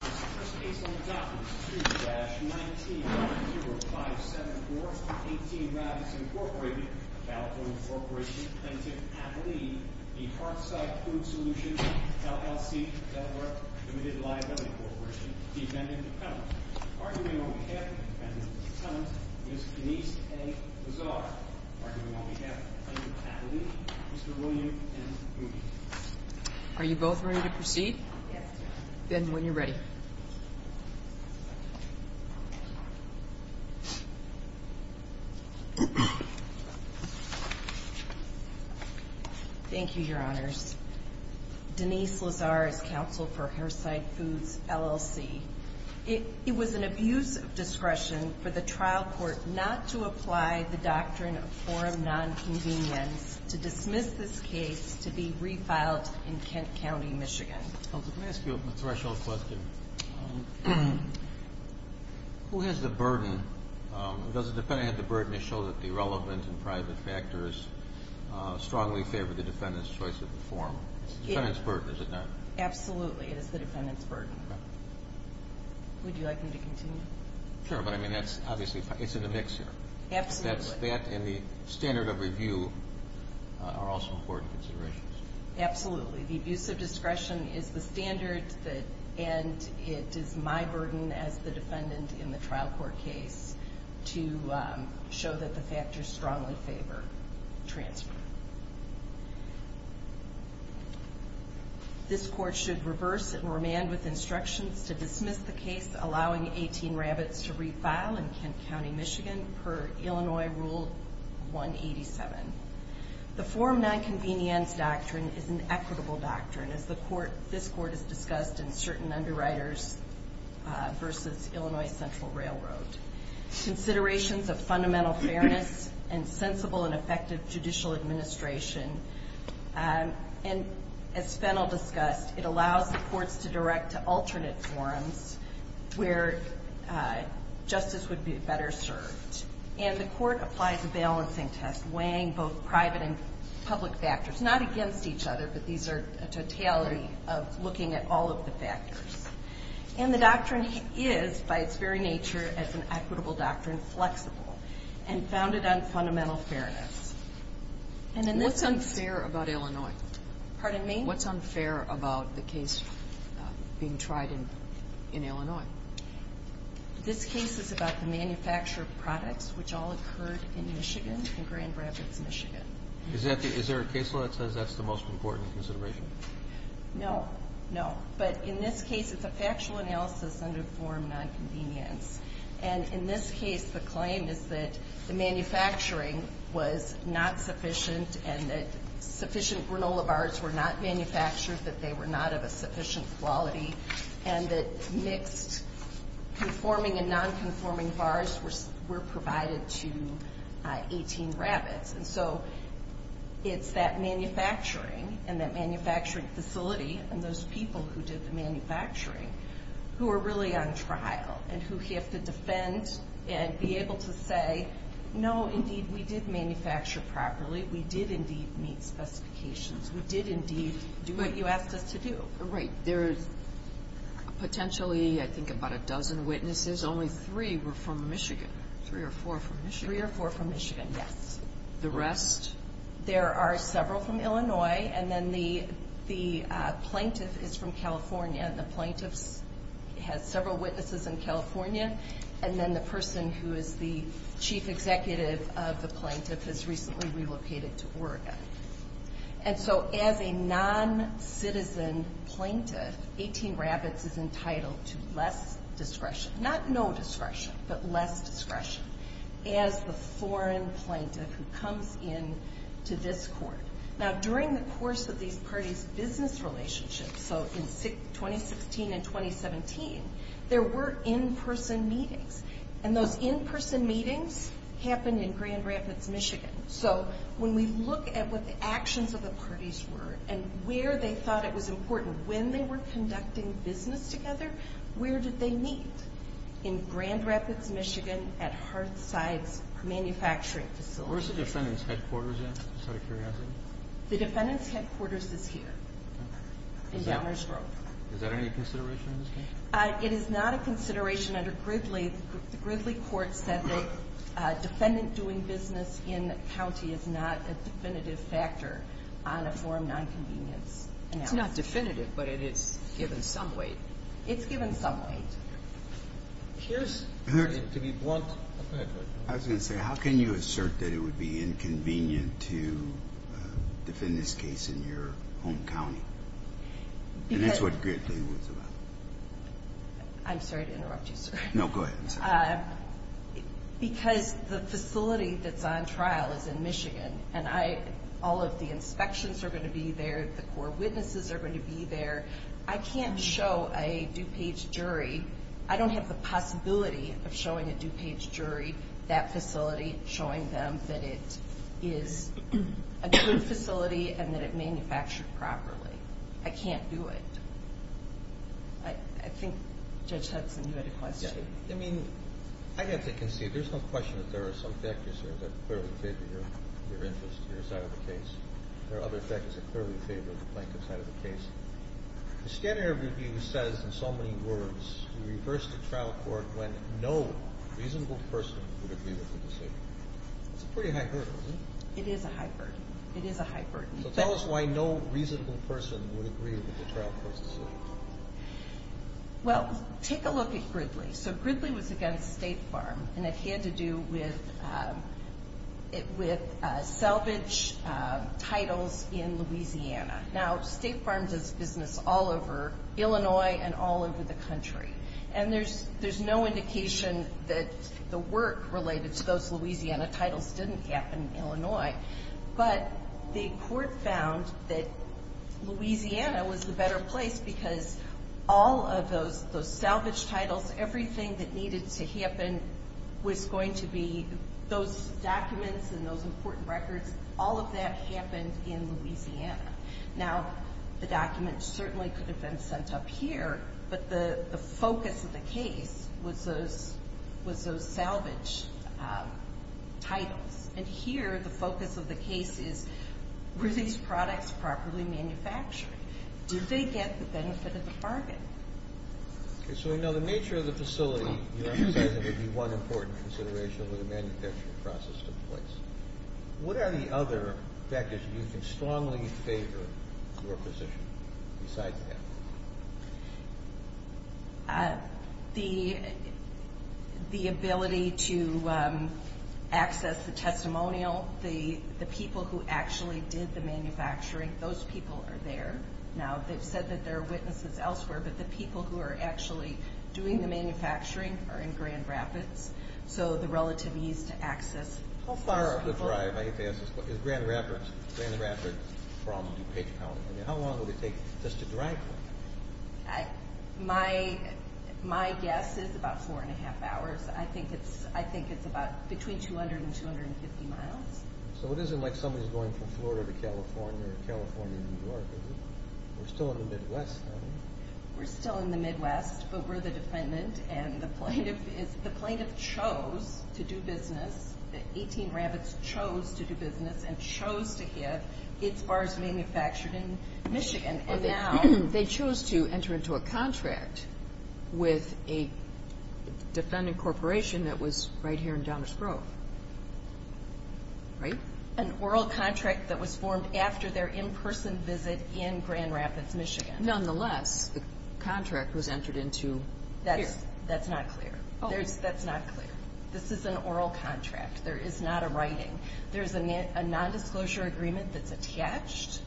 First case on the docket is 2-19-10574, 18 Rabbits, Inc., a Balfour, Inc., plaintiff, athlete, the Hearthside Food Solutions, LLC, Delaware Limited Liability Corporation, defendant, defendant. Arguing on behalf of the defendant and the defendant, Ms. Denise A. Lazar. Arguing on behalf of the plaintiff, athlete, Mr. William M. Goody. Are you both ready to proceed? Then when you're ready. Thank you, Your Honors. Denise Lazar is counsel for Hearthside Foods, LLC. It was an abuse of discretion for the trial court not to apply the doctrine of forum nonconvenience to dismiss this case to be refiled in Kent County, Michigan. Let me ask you a threshold question. Who has the burden, does the defendant have the burden to show that the relevant and private factors strongly favor the defendant's choice of the forum? It's the defendant's burden, is it not? Absolutely, it is the defendant's burden. Would you like me to continue? Sure, but I mean that's obviously, it's in the mix here. Absolutely. That and the standard of review are also important considerations. Absolutely. The abuse of discretion is the standard and it is my burden as the defendant in the trial court case to show that the factors strongly favor transfer. This court should reverse and remand with instructions to dismiss the case allowing 18 rabbits to refile in Kent County, Michigan per Illinois Rule 187. The forum nonconvenience doctrine is an equitable doctrine as this court has discussed in certain underwriters versus Illinois Central Railroad. Considerations of fundamental fairness and sensible and effective judicial administration and as Fennell discussed, it allows the courts to direct to alternate forums where justice would be better served. And the court applies a balancing test weighing both private and public factors, not against each other, but these are a totality of looking at all of the factors. And the doctrine is by its very nature as an equitable doctrine flexible and founded on fundamental fairness. What's unfair about Illinois? Pardon me? What's unfair about the case being tried in Illinois? This case is about the manufactured products which all occurred in Michigan, in Grand Rapids, Michigan. Is there a case law that says that's the most important consideration? No, no. But in this case it's a factual analysis under forum nonconvenience. And in this case the claim is that the manufacturing was not sufficient and that sufficient granola bars were not manufactured, that they were not of a sufficient quality, and that mixed conforming and nonconforming bars were provided to 18 rabbits. And so it's that manufacturing and that manufacturing facility and those people who did the manufacturing who are really on trial and who have to defend and be able to say, no, indeed we did manufacture properly, we did indeed meet specifications, we did indeed do what you asked us to do. Right. There's potentially I think about a dozen witnesses. Only three were from Michigan. Three or four from Michigan. Three or four from Michigan, yes. The rest? There are several from Illinois. And then the plaintiff is from California. And the plaintiff has several witnesses in California. And then the person who is the chief executive of the plaintiff has recently relocated to Oregon. And so as a noncitizen plaintiff, 18 rabbits is entitled to less discretion. Not no discretion, but less discretion as the foreign plaintiff who comes in to this court. Now during the course of these parties' business relationships, so in 2016 and 2017, there were in-person meetings. And those in-person meetings happened in Grand Rapids, Michigan. So when we look at what the actions of the parties were and where they thought it was important when they were conducting business together, where did they meet? In Grand Rapids, Michigan at Hartside's manufacturing facility. Where's the defendant's headquarters at? Just out of curiosity. The defendant's headquarters is here. Okay. In Downers Grove. Is that any consideration in this case? It is not a consideration under Gridley. The Gridley court said that defendant doing business in county is not a definitive factor on a form nonconvenience analysis. It's not definitive, but it is given some weight. It's given some weight. I was going to say, how can you assert that it would be inconvenient to defend this case in your home county? And that's what Gridley was about. I'm sorry to interrupt you, sir. No, go ahead. Because the facility that's on trial is in Michigan, and all of the inspections are going to be there, the core witnesses are going to be there. I can't show a DuPage jury. I don't have the possibility of showing a DuPage jury that facility, showing them that it is a good facility and that it manufactured properly. I can't do it. I think Judge Hudson, you had a question. Yeah. I mean, I have to concede. There's no question that there are some factors that clearly favor your interest in your side of the case. There are other factors that clearly favor the plaintiff's side of the case. The standard review says in so many words, we reversed the trial court when no reasonable person would agree with the decision. That's a pretty high burden, isn't it? It is a high burden. It is a high burden. So tell us why no reasonable person would agree with the trial court's decision. Well, take a look at Gridley. So Gridley was against State Farm, and it had to do with salvage titles in Louisiana. Now, State Farm does business all over Illinois and all over the country. And there's no indication that the work related to those Louisiana titles didn't happen in Illinois. But the court found that Louisiana was the better place because all of those salvage titles, everything that needed to happen was going to be those documents and those important records, all of that happened in Louisiana. Now, the documents certainly could have been sent up here, but the focus of the case was those salvage titles. And here the focus of the case is were these products properly manufactured? Did they get the benefit of the bargain? Okay, so we know the nature of the facility, you emphasize it would be one important consideration when the manufacturing process took place. What are the other factors that you can strongly favor your position besides that? The ability to access the testimonial, the people who actually did the manufacturing, those people are there now. They've said that there are witnesses elsewhere, but the people who are actually doing the manufacturing are in Grand Rapids, so the relative ease to access. How far up the drive, I hate to ask this, is Grand Rapids from DuPage County? How long would it take just to drive there? My guess is about four and a half hours. I think it's about between 200 and 250 miles. So it isn't like somebody's going from Florida to California or California to New York, is it? We're still in the Midwest, aren't we? We're still in the Midwest, but we're the defendant, and the plaintiff chose to do business, the 18 Rapids chose to do business and chose to have its bars manufactured in Michigan. They chose to enter into a contract with a defendant corporation that was right here in Downers Grove, right? An oral contract that was formed after their in-person visit in Grand Rapids, Michigan. Nonetheless, the contract was entered into here. That's not clear. That's not clear. This is an oral contract. There is not a writing. There's a nondisclosure agreement that's attached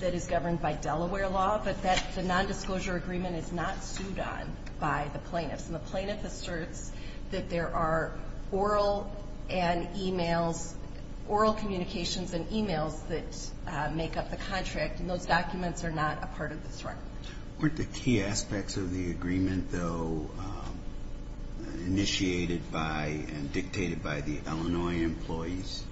that is governed by Delaware law, but the nondisclosure agreement is not sued on by the plaintiffs, and the plaintiff asserts that there are oral communications and emails that make up the contract, and those documents are not a part of this writing. Weren't the key aspects of the agreement, though, initiated by and dictated by the Illinois employees?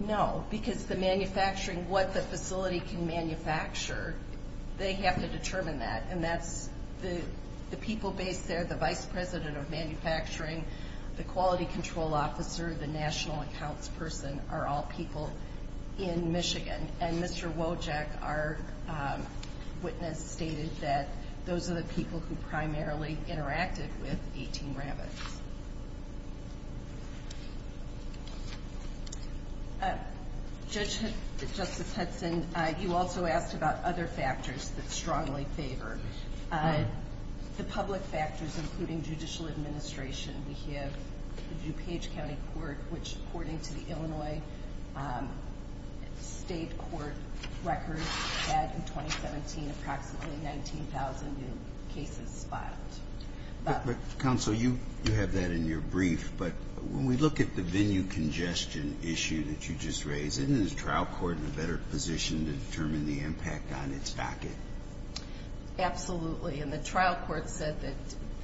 No, because the manufacturing, what the facility can manufacture, they have to determine that, and that's the people based there, the vice president of manufacturing, the quality control officer, the national accounts person are all people in Michigan, and Mr. Wojak, our witness, stated that those are the people who primarily interacted with 18 Rabbits. Judge, Justice Hudson, you also asked about other factors that strongly favor. The public factors, including judicial administration. We have the DuPage County Court, which, according to the Illinois State Court records, had in 2017 approximately 19,000 new cases filed. But, Counsel, you have that in your brief, but when we look at the venue congestion issue that you just raised, isn't the trial court in a better position to determine the impact on its docket? Absolutely. And the trial court said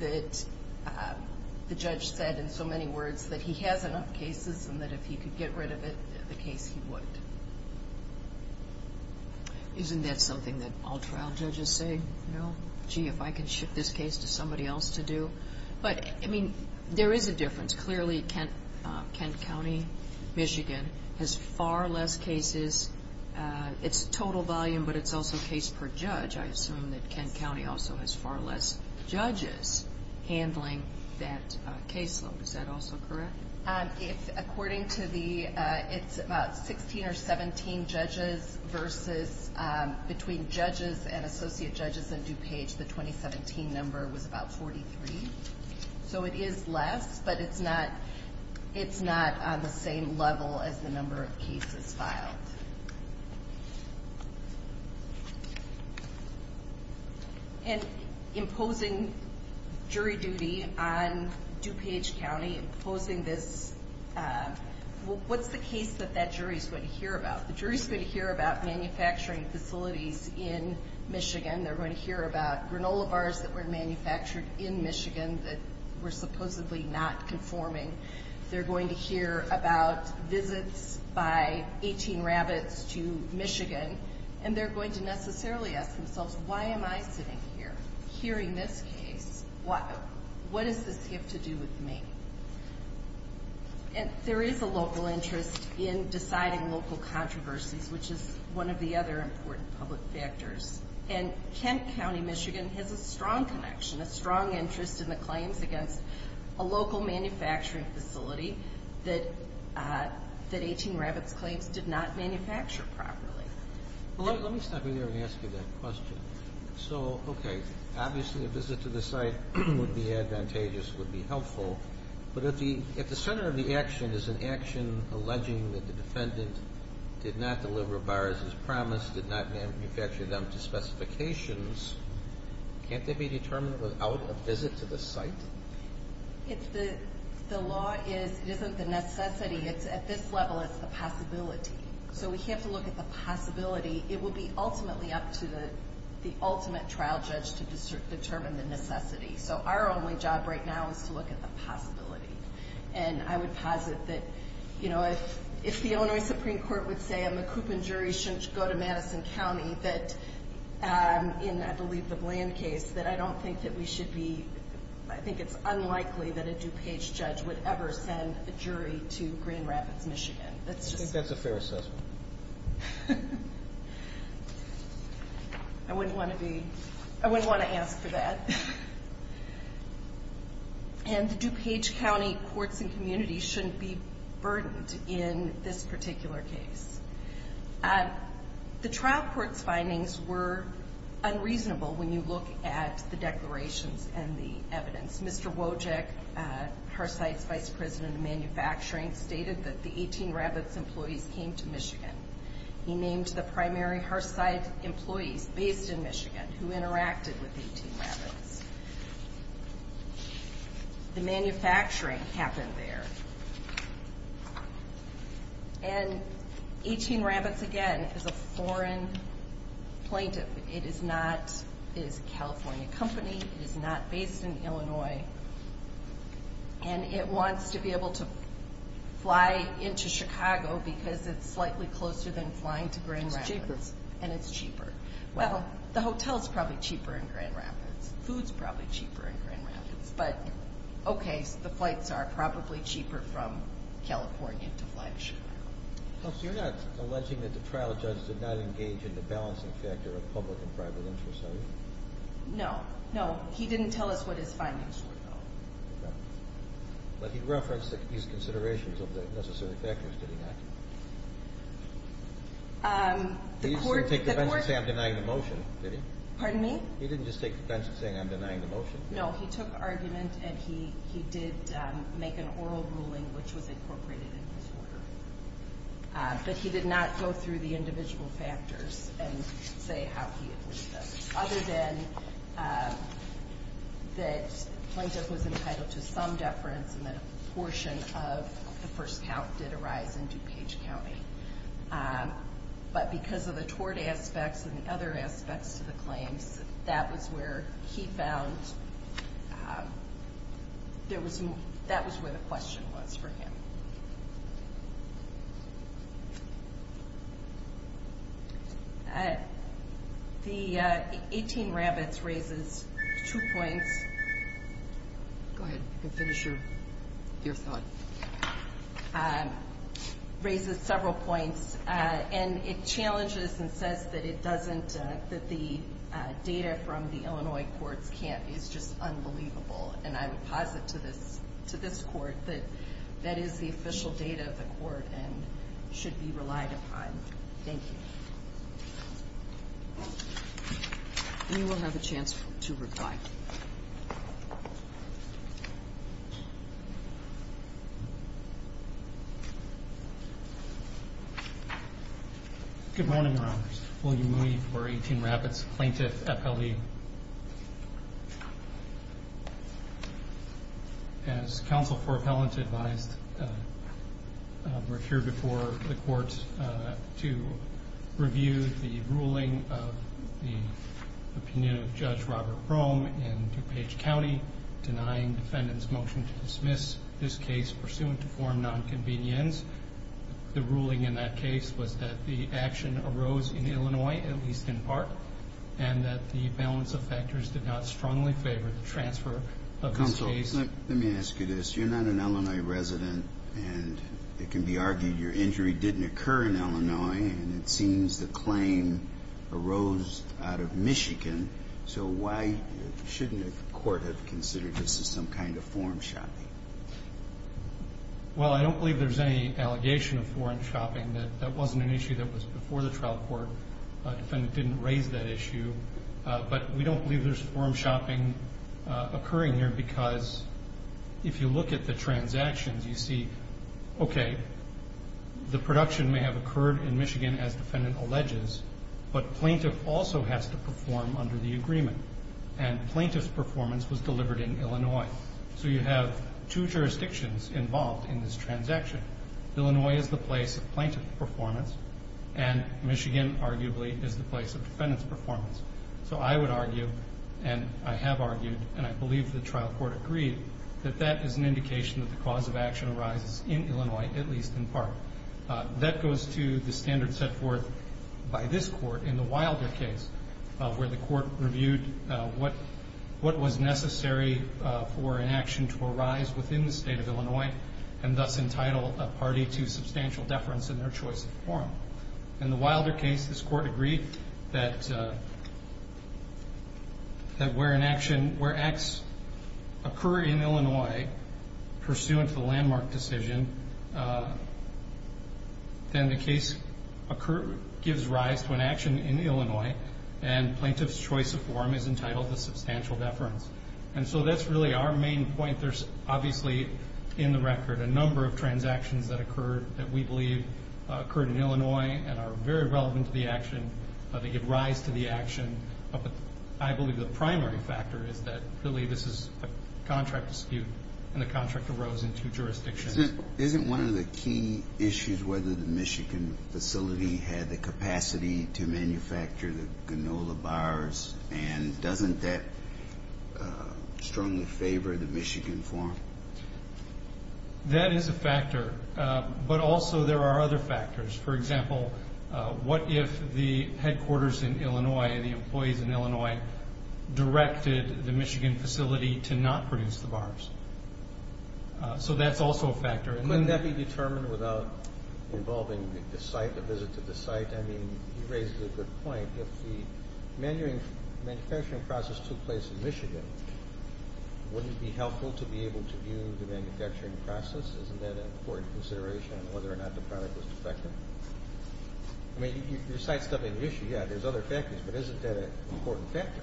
that the judge said in so many words that he has enough cases and that if he could get rid of it, the case he would. Isn't that something that all trial judges say? No. Gee, if I could ship this case to somebody else to do. But, I mean, there is a difference. Clearly, Kent County, Michigan, has far less cases. It's total volume, but it's also case per judge. I assume that Kent County also has far less judges handling that case load. Is that also correct? According to the 16 or 17 judges versus between judges and associate judges in DuPage, the 2017 number was about 43. So it is less, but it's not on the same level as the number of cases filed. And imposing jury duty on DuPage County, imposing this, what's the case that that jury is going to hear about? The jury is going to hear about manufacturing facilities in Michigan. They're going to hear about granola bars that were manufactured in Michigan that were supposedly not conforming. They're going to hear about visits by 18 rabbits to Michigan. And they're going to necessarily ask themselves, why am I sitting here hearing this case? What does this have to do with me? There is a local interest in deciding local controversies, which is one of the other important public factors. And Kent County, Michigan, has a strong connection, a strong interest in the claims against a local manufacturing facility that 18 rabbits claims did not manufacture properly. Well, let me stop you there and ask you that question. So, okay, obviously a visit to the site would be advantageous, would be helpful. But if the center of the action is an action alleging that the defendant did not deliver bars as promised, did not manufacture them to specifications, can't they be determined without a visit to the site? The law is it isn't the necessity. At this level, it's the possibility. So we have to look at the possibility. It would be ultimately up to the ultimate trial judge to determine the necessity. So our only job right now is to look at the possibility. And I would posit that, you know, if the Illinois Supreme Court would say, and the Coopman jury shouldn't go to Madison County, that in, I believe, the Bland case, that I don't think that we should be, I think it's unlikely that a DuPage judge would ever send a jury to Green Rapids, Michigan. I think that's a fair assessment. I wouldn't want to be, I wouldn't want to ask for that. And the DuPage County Courts and Communities shouldn't be burdened in this particular case. The trial court's findings were unreasonable when you look at the declarations and the evidence. Mr. Wojcik, Harcite's vice president of manufacturing, stated that the 18 Rapids employees came to Michigan. He named the primary Harcite employees based in Michigan who interacted with 18 Rapids. The manufacturing happened there. And 18 Rapids, again, is a foreign plaintiff. It is not, it is a California company. It is not based in Illinois. And it wants to be able to fly into Chicago because it's slightly closer than flying to Grand Rapids. It's cheaper. And it's cheaper. Well, the hotel's probably cheaper in Grand Rapids. Food's probably cheaper in Grand Rapids. Counsel, you're not alleging that the trial judge did not engage in the balancing factor of public and private interests, are you? No. No, he didn't tell us what his findings were, though. Okay. But he referenced that he used considerations of the necessary factors, did he not? The court He didn't just take the bench and say I'm denying the motion, did he? Pardon me? He didn't just take the bench and say I'm denying the motion? No, he took argument and he did make an oral ruling which was incorporated in his order. But he did not go through the individual factors and say how he agreed to them. Other than that plaintiff was entitled to some deference and that a portion of the first count did arise in DuPage County. But because of the tort aspects and the other aspects to the claims, that was where he found, that was where the question was for him. The 18 rabbits raises two points. Go ahead. You can finish your thought. Raises several points. And it challenges and says that it doesn't, that the data from the Illinois courts is just unbelievable. And I would posit to this court that that is the official data of the court and should be relied upon. Thank you. And you will have a chance to reply. Good morning, Your Honors. William Mooney for 18 Rabbits, Plaintiff, appellee. As counsel for appellant advised, we're here before the court to review the ruling of the opinion of Judge Robert Brome in DuPage County, denying defendant's motion to dismiss this case pursuant to form nonconvenience. The ruling in that case was that the action arose in Illinois, at least in part, and that the balance of factors did not strongly favor the transfer of this case. Counsel, let me ask you this. You're not an Illinois resident, and it can be argued your injury didn't occur in Illinois, and it seems the claim arose out of Michigan. So why shouldn't the court have considered this as some kind of foreign shopping? Well, I don't believe there's any allegation of foreign shopping. That wasn't an issue that was before the trial court. Defendant didn't raise that issue. But we don't believe there's foreign shopping occurring here because if you look at the transactions, you see, okay, the production may have occurred in Michigan, as defendant alleges, but plaintiff also has to perform under the agreement, and plaintiff's performance was delivered in Illinois. So you have two jurisdictions involved in this transaction. Illinois is the place of plaintiff performance, and Michigan, arguably, is the place of defendant's performance. So I would argue, and I have argued, and I believe the trial court agreed, that that is an indication that the cause of action arises in Illinois, at least in part. That goes to the standard set forth by this court in the Wilder case, where the court reviewed what was necessary for an action to arise within the state of Illinois and thus entitle a party to substantial deference in their choice of form. In the Wilder case, this court agreed that where an action, where acts occur in Illinois, pursuant to the landmark decision, then the case gives rise to an action in Illinois, and plaintiff's choice of form is entitled to substantial deference. And so that's really our main point. There's obviously in the record a number of transactions that occurred that we believe occurred in Illinois and are very relevant to the action. They give rise to the action. But I believe the primary factor is that really this is a contract dispute, and the contract arose in two jurisdictions. Isn't one of the key issues whether the Michigan facility had the capacity to manufacture the granola bars, and doesn't that strongly favor the Michigan form? That is a factor. But also there are other factors. For example, what if the headquarters in Illinois and the employees in Illinois directed the Michigan facility to not produce the bars? So that's also a factor. Couldn't that be determined without involving the site, the visit to the site? In fact, I mean, you raise a good point. If the manufacturing process took place in Michigan, wouldn't it be helpful to be able to view the manufacturing process? Isn't that an important consideration on whether or not the product was defective? I mean, your site's not an issue. Yeah, there's other factors, but isn't that an important factor?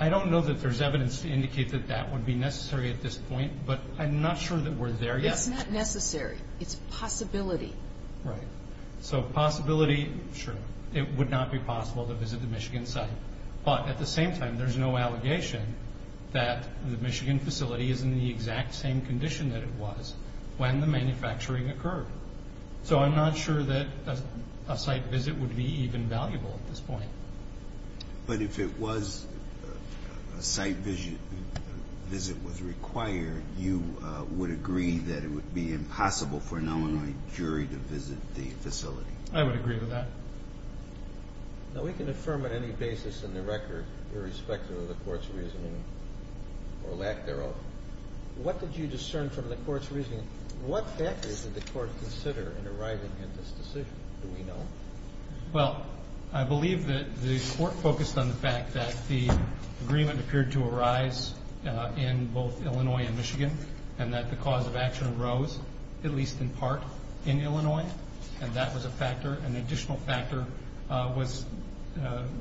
I don't know that there's evidence to indicate that that would be necessary at this point, but I'm not sure that we're there yet. It's not necessary. It's a possibility. Right. So possibility, sure. It would not be possible to visit the Michigan site. But at the same time, there's no allegation that the Michigan facility is in the exact same condition that it was when the manufacturing occurred. So I'm not sure that a site visit would be even valuable at this point. But if a site visit was required, you would agree that it would be impossible for an Illinois jury to visit the facility? I would agree with that. Now, we can affirm on any basis in the record, irrespective of the court's reasoning or lack thereof. What did you discern from the court's reasoning? What factors did the court consider in arriving at this decision? Do we know? Well, I believe that the court focused on the fact that the agreement appeared to arise in both Illinois and Michigan and that the cause of action arose, at least in part, in Illinois. And that was a factor. An additional factor was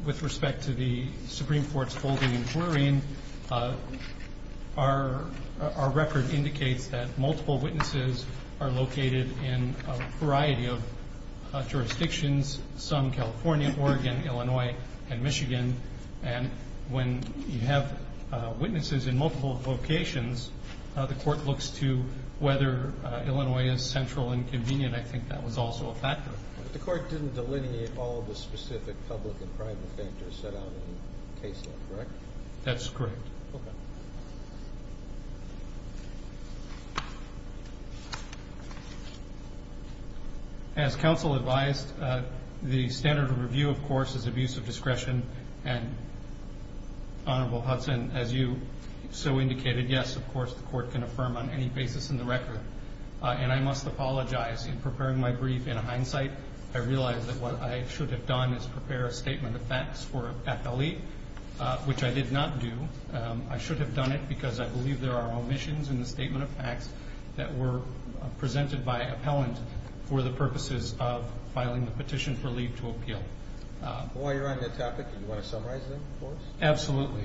with respect to the Supreme Court's holding and jurying. Our record indicates that multiple witnesses are located in a variety of jurisdictions, and when you have witnesses in multiple locations, the court looks to whether Illinois is central and convenient. I think that was also a factor. The court didn't delineate all the specific public and private factors set out in the case law, correct? That's correct. Okay. Thank you. As counsel advised, the standard of review, of course, is abuse of discretion, and Honorable Hudson, as you so indicated, yes, of course, the court can affirm on any basis in the record. And I must apologize. In preparing my brief, in hindsight, I realized that what I should have done is prepare a statement of facts for an appellee, which I did not do. I should have done it because I believe there are omissions in the statement of facts that were presented by appellant for the purposes of filing the petition for leave to appeal. While you're on the topic, do you want to summarize them for us? Absolutely.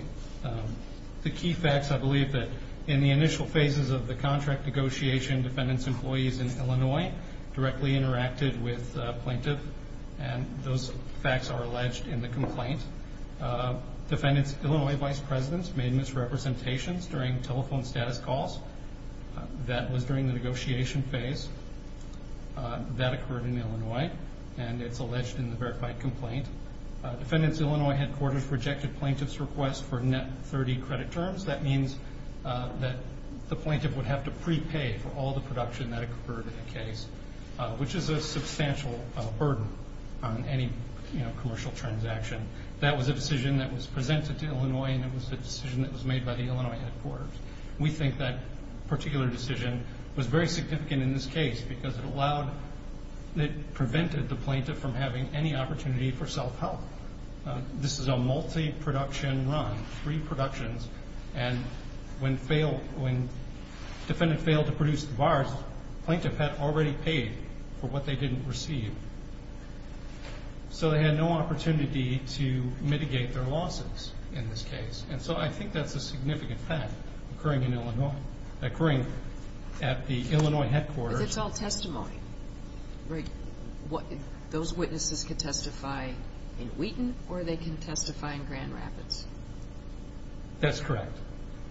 The key facts, I believe, that in the initial phases of the contract negotiation, defendants' employees in Illinois directly interacted with the plaintiff, and those facts are alleged in the complaint. Defendants' Illinois vice presidents made misrepresentations during telephone status calls. That was during the negotiation phase. That occurred in Illinois, and it's alleged in the verified complaint. Defendants' Illinois headquarters rejected plaintiff's request for net 30 credit terms. That means that the plaintiff would have to prepay for all the production that occurred in the case, which is a substantial burden on any commercial transaction. That was a decision that was presented to Illinois, and it was a decision that was made by the Illinois headquarters. We think that particular decision was very significant in this case because it prevented the plaintiff from having any opportunity for self-help. This is a multi-production run, three productions, and when defendant failed to produce the bars, plaintiff had already paid for what they didn't receive. So they had no opportunity to mitigate their losses in this case, and so I think that's a significant fact occurring in Illinois, occurring at the Illinois headquarters. But it's all testimony. Right. Those witnesses could testify in Wheaton, or they can testify in Grand Rapids. That's correct,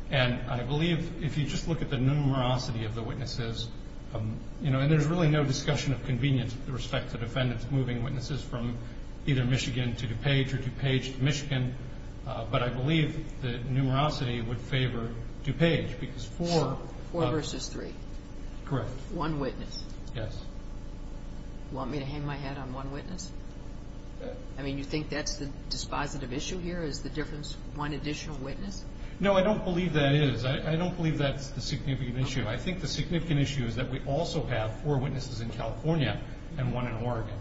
and I believe if you just look at the numerosity of the witnesses, and there's really no discussion of convenience with respect to defendants moving witnesses from either Michigan to DuPage or DuPage to Michigan, but I believe the numerosity would favor DuPage because four. Four versus three. Correct. One witness. Yes. Want me to hang my head on one witness? I mean, you think that's the dispositive issue here is the difference, one additional witness? No, I don't believe that is. I don't believe that's the significant issue. I think the significant issue is that we also have four witnesses in California and one in Oregon.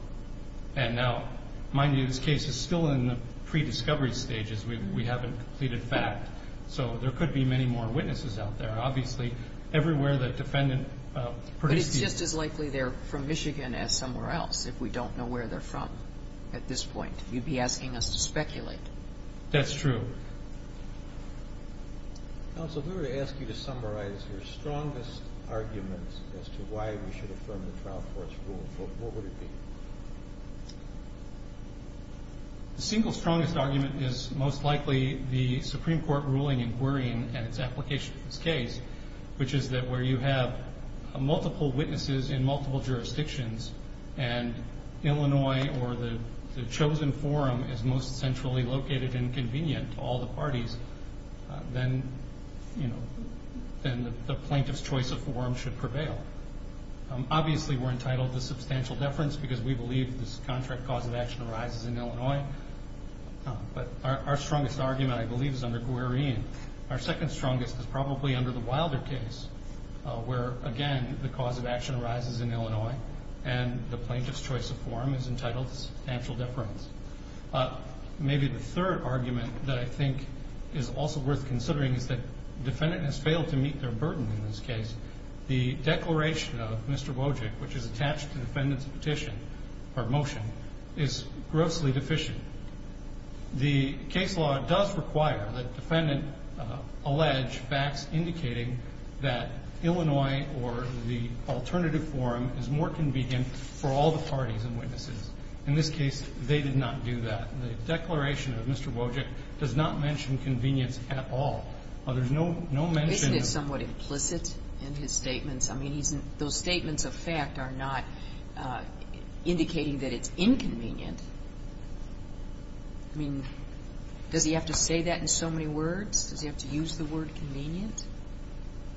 And now, mind you, this case is still in the pre-discovery stages. We haven't completed FACT. So there could be many more witnesses out there. Obviously, everywhere the defendant produced these. But it's just as likely they're from Michigan as somewhere else if we don't know where they're from at this point. You'd be asking us to speculate. That's true. Counsel, we were going to ask you to summarize your strongest arguments as to why we should affirm the trial court's rule. What would it be? The single strongest argument is most likely the Supreme Court ruling inquiring and its application of this case, which is that where you have multiple witnesses in multiple jurisdictions and Illinois or the chosen forum is most centrally located and convenient to all the parties, then the plaintiff's choice of forum should prevail. Obviously, we're entitled to substantial deference because we believe this contract cause of action arises in Illinois. But our strongest argument, I believe, is under Guarine. Our second strongest is probably under the Wilder case, where, again, the cause of action arises in Illinois and the plaintiff's choice of forum is entitled to substantial deference. Maybe the third argument that I think is also worth considering is that the defendant has failed to meet their burden in this case. The declaration of Mr. Wojcik, which is attached to the defendant's petition or motion, is grossly deficient. The case law does require that the defendant allege facts indicating that Illinois or the alternative forum is more convenient for all the parties and witnesses. In this case, they did not do that. The declaration of Mr. Wojcik does not mention convenience at all. There's no mention of that. Isn't it somewhat implicit in his statements? I mean, those statements of fact are not indicating that it's inconvenient. I mean, does he have to say that in so many words? Does he have to use the word convenient?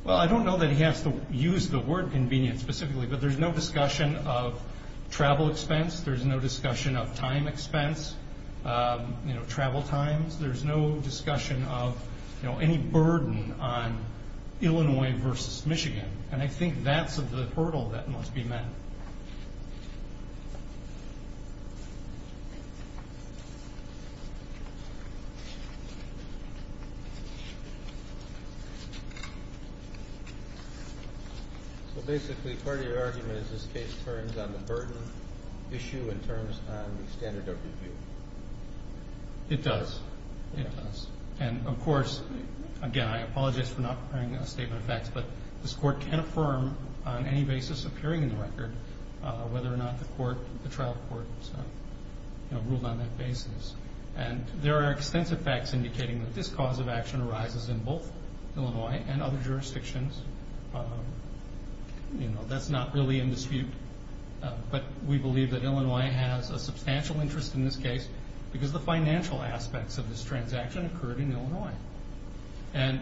Well, I don't know that he has to use the word convenient specifically, but there's no discussion of travel expense. There's no discussion of time expense, travel times. There's no discussion of any burden on Illinois versus Michigan. And I think that's the hurdle that must be met. So, basically, part of your argument is this case turns on the burden issue and turns on the standard of review. It does. It does. And, of course, again, I apologize for not preparing a statement of facts, but this court can affirm on any basis appearing in the record whether or not the trial court has ruled on that basis. And there are extensive facts indicating that this cause of action arises in both Illinois and other jurisdictions. That's not really in dispute, but we believe that Illinois has a substantial interest in this case because the financial aspects of this transaction occurred in Illinois. And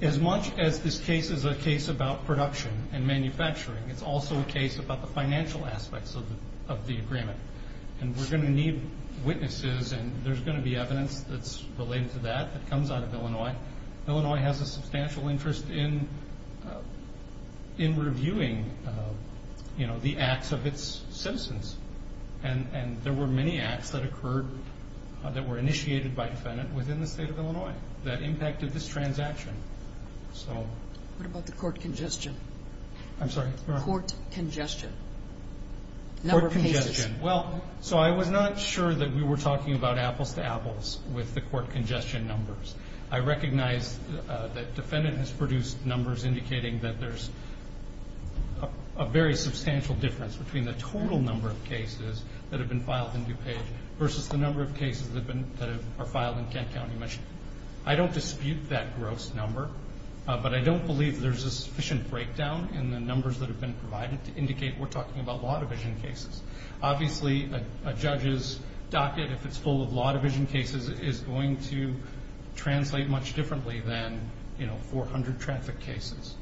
as much as this case is a case about production and manufacturing, it's also a case about the financial aspects of the agreement. And we're going to need witnesses, and there's going to be evidence that's related to that that comes out of Illinois. Illinois has a substantial interest in reviewing the acts of its citizens, and there were many acts that occurred that were initiated by defendant within the state of Illinois that impacted this transaction. What about the court congestion? I'm sorry? Court congestion. Number of cases. Court congestion. Well, so I was not sure that we were talking about apples to apples with the court congestion numbers. I recognize that defendant has produced numbers indicating that there's a very large number of cases that have been filed in DuPage versus the number of cases that are filed in Kent County. I don't dispute that gross number, but I don't believe there's a sufficient breakdown in the numbers that have been provided to indicate we're talking about law division cases. Obviously, a judge's docket, if it's full of law division cases, is going to translate much differently than 400 traffic cases.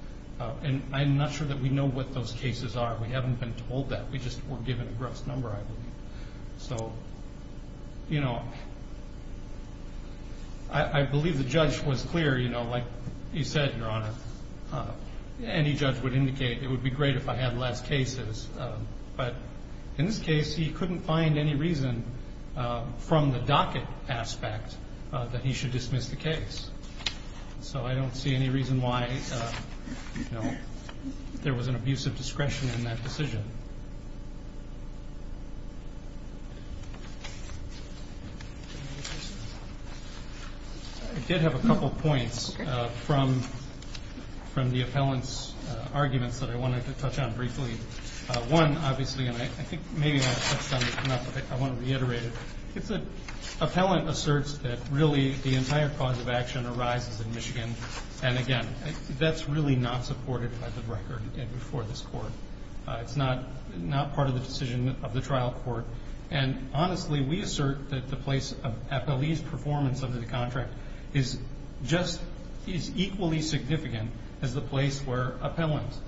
And I'm not sure that we know what those cases are. We haven't been told that. We just were given a gross number, I believe. So, you know, I believe the judge was clear, you know, like you said, Your Honor, any judge would indicate it would be great if I had less cases. But in this case, he couldn't find any reason from the docket aspect that he should dismiss the case. So I don't see any reason why there was an abuse of discretion in that decision. I did have a couple points from the appellant's arguments that I wanted to touch on briefly. One, obviously, and I think maybe I touched on this enough, but I want to reiterate it. It's that appellant asserts that, really, the entire cause of action arises in Michigan. And, again, that's really not supported by the record before this Court. It's not part of the decision of the trial court. And, honestly, we assert that the place of appellee's performance under the contract is just as equally significant as the place where appellants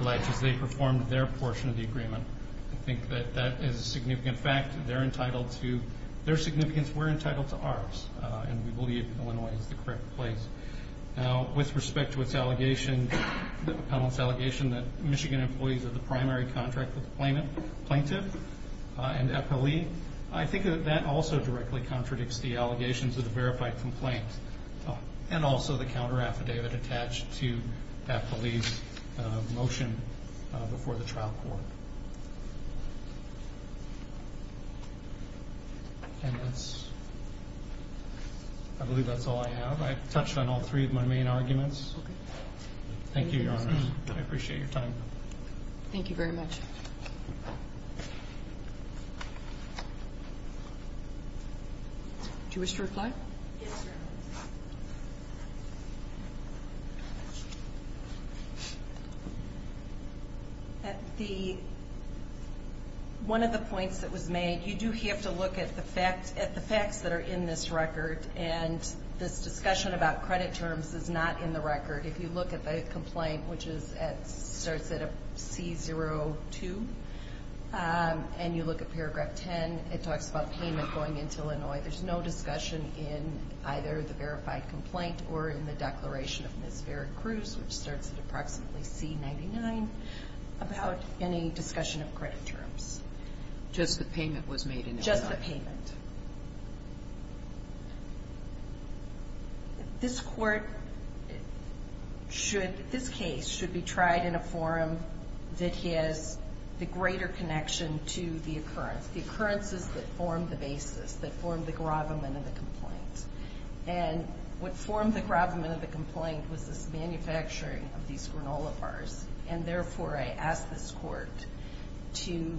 pledge as they perform their portion of the agreement. I think that that is a significant fact. They're entitled to their significance. We're entitled to ours, and we believe Illinois is the correct place. Now, with respect to its allegation, the appellant's allegation, that Michigan employees are the primary contract with the plaintiff and appellee, I think that that also directly contradicts the allegations of the verified complaint and also the counteraffidavit attached to appellee's motion before the trial court. I believe that's all I have. I've touched on all three of my main arguments. Thank you, Your Honor. I appreciate your time. Thank you very much. Thank you. Do you wish to reply? Yes, Your Honor. One of the points that was made, you do have to look at the facts that are in this record, and this discussion about credit terms is not in the record. If you look at the complaint, which starts at C02, and you look at paragraph 10, it talks about payment going into Illinois. There's no discussion in either the verified complaint or in the declaration of Ms. Vera Cruz, which starts at approximately C99, about any discussion of credit terms. Just the payment. This court should, this case should be tried in a forum that has the greater connection to the occurrence, the occurrences that formed the basis, that formed the gravamen of the complaint. And what formed the gravamen of the complaint was this manufacturing of these granola bars, and therefore I ask this court to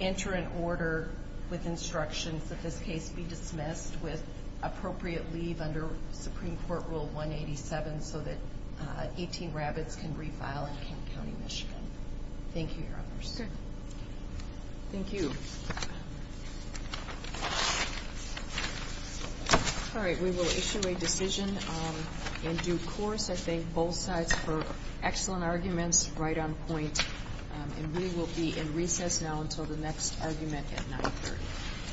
enter an order with instructions that this case be dismissed with appropriate leave under Supreme Court Rule 187 so that 18 Rabbits can refile in Kent County, Michigan. Thank you, Your Honor. Sure. Thank you. All right. We will issue a decision in due course. I thank both sides for excellent arguments right on point. And we will be in recess now until the next argument at 9.30.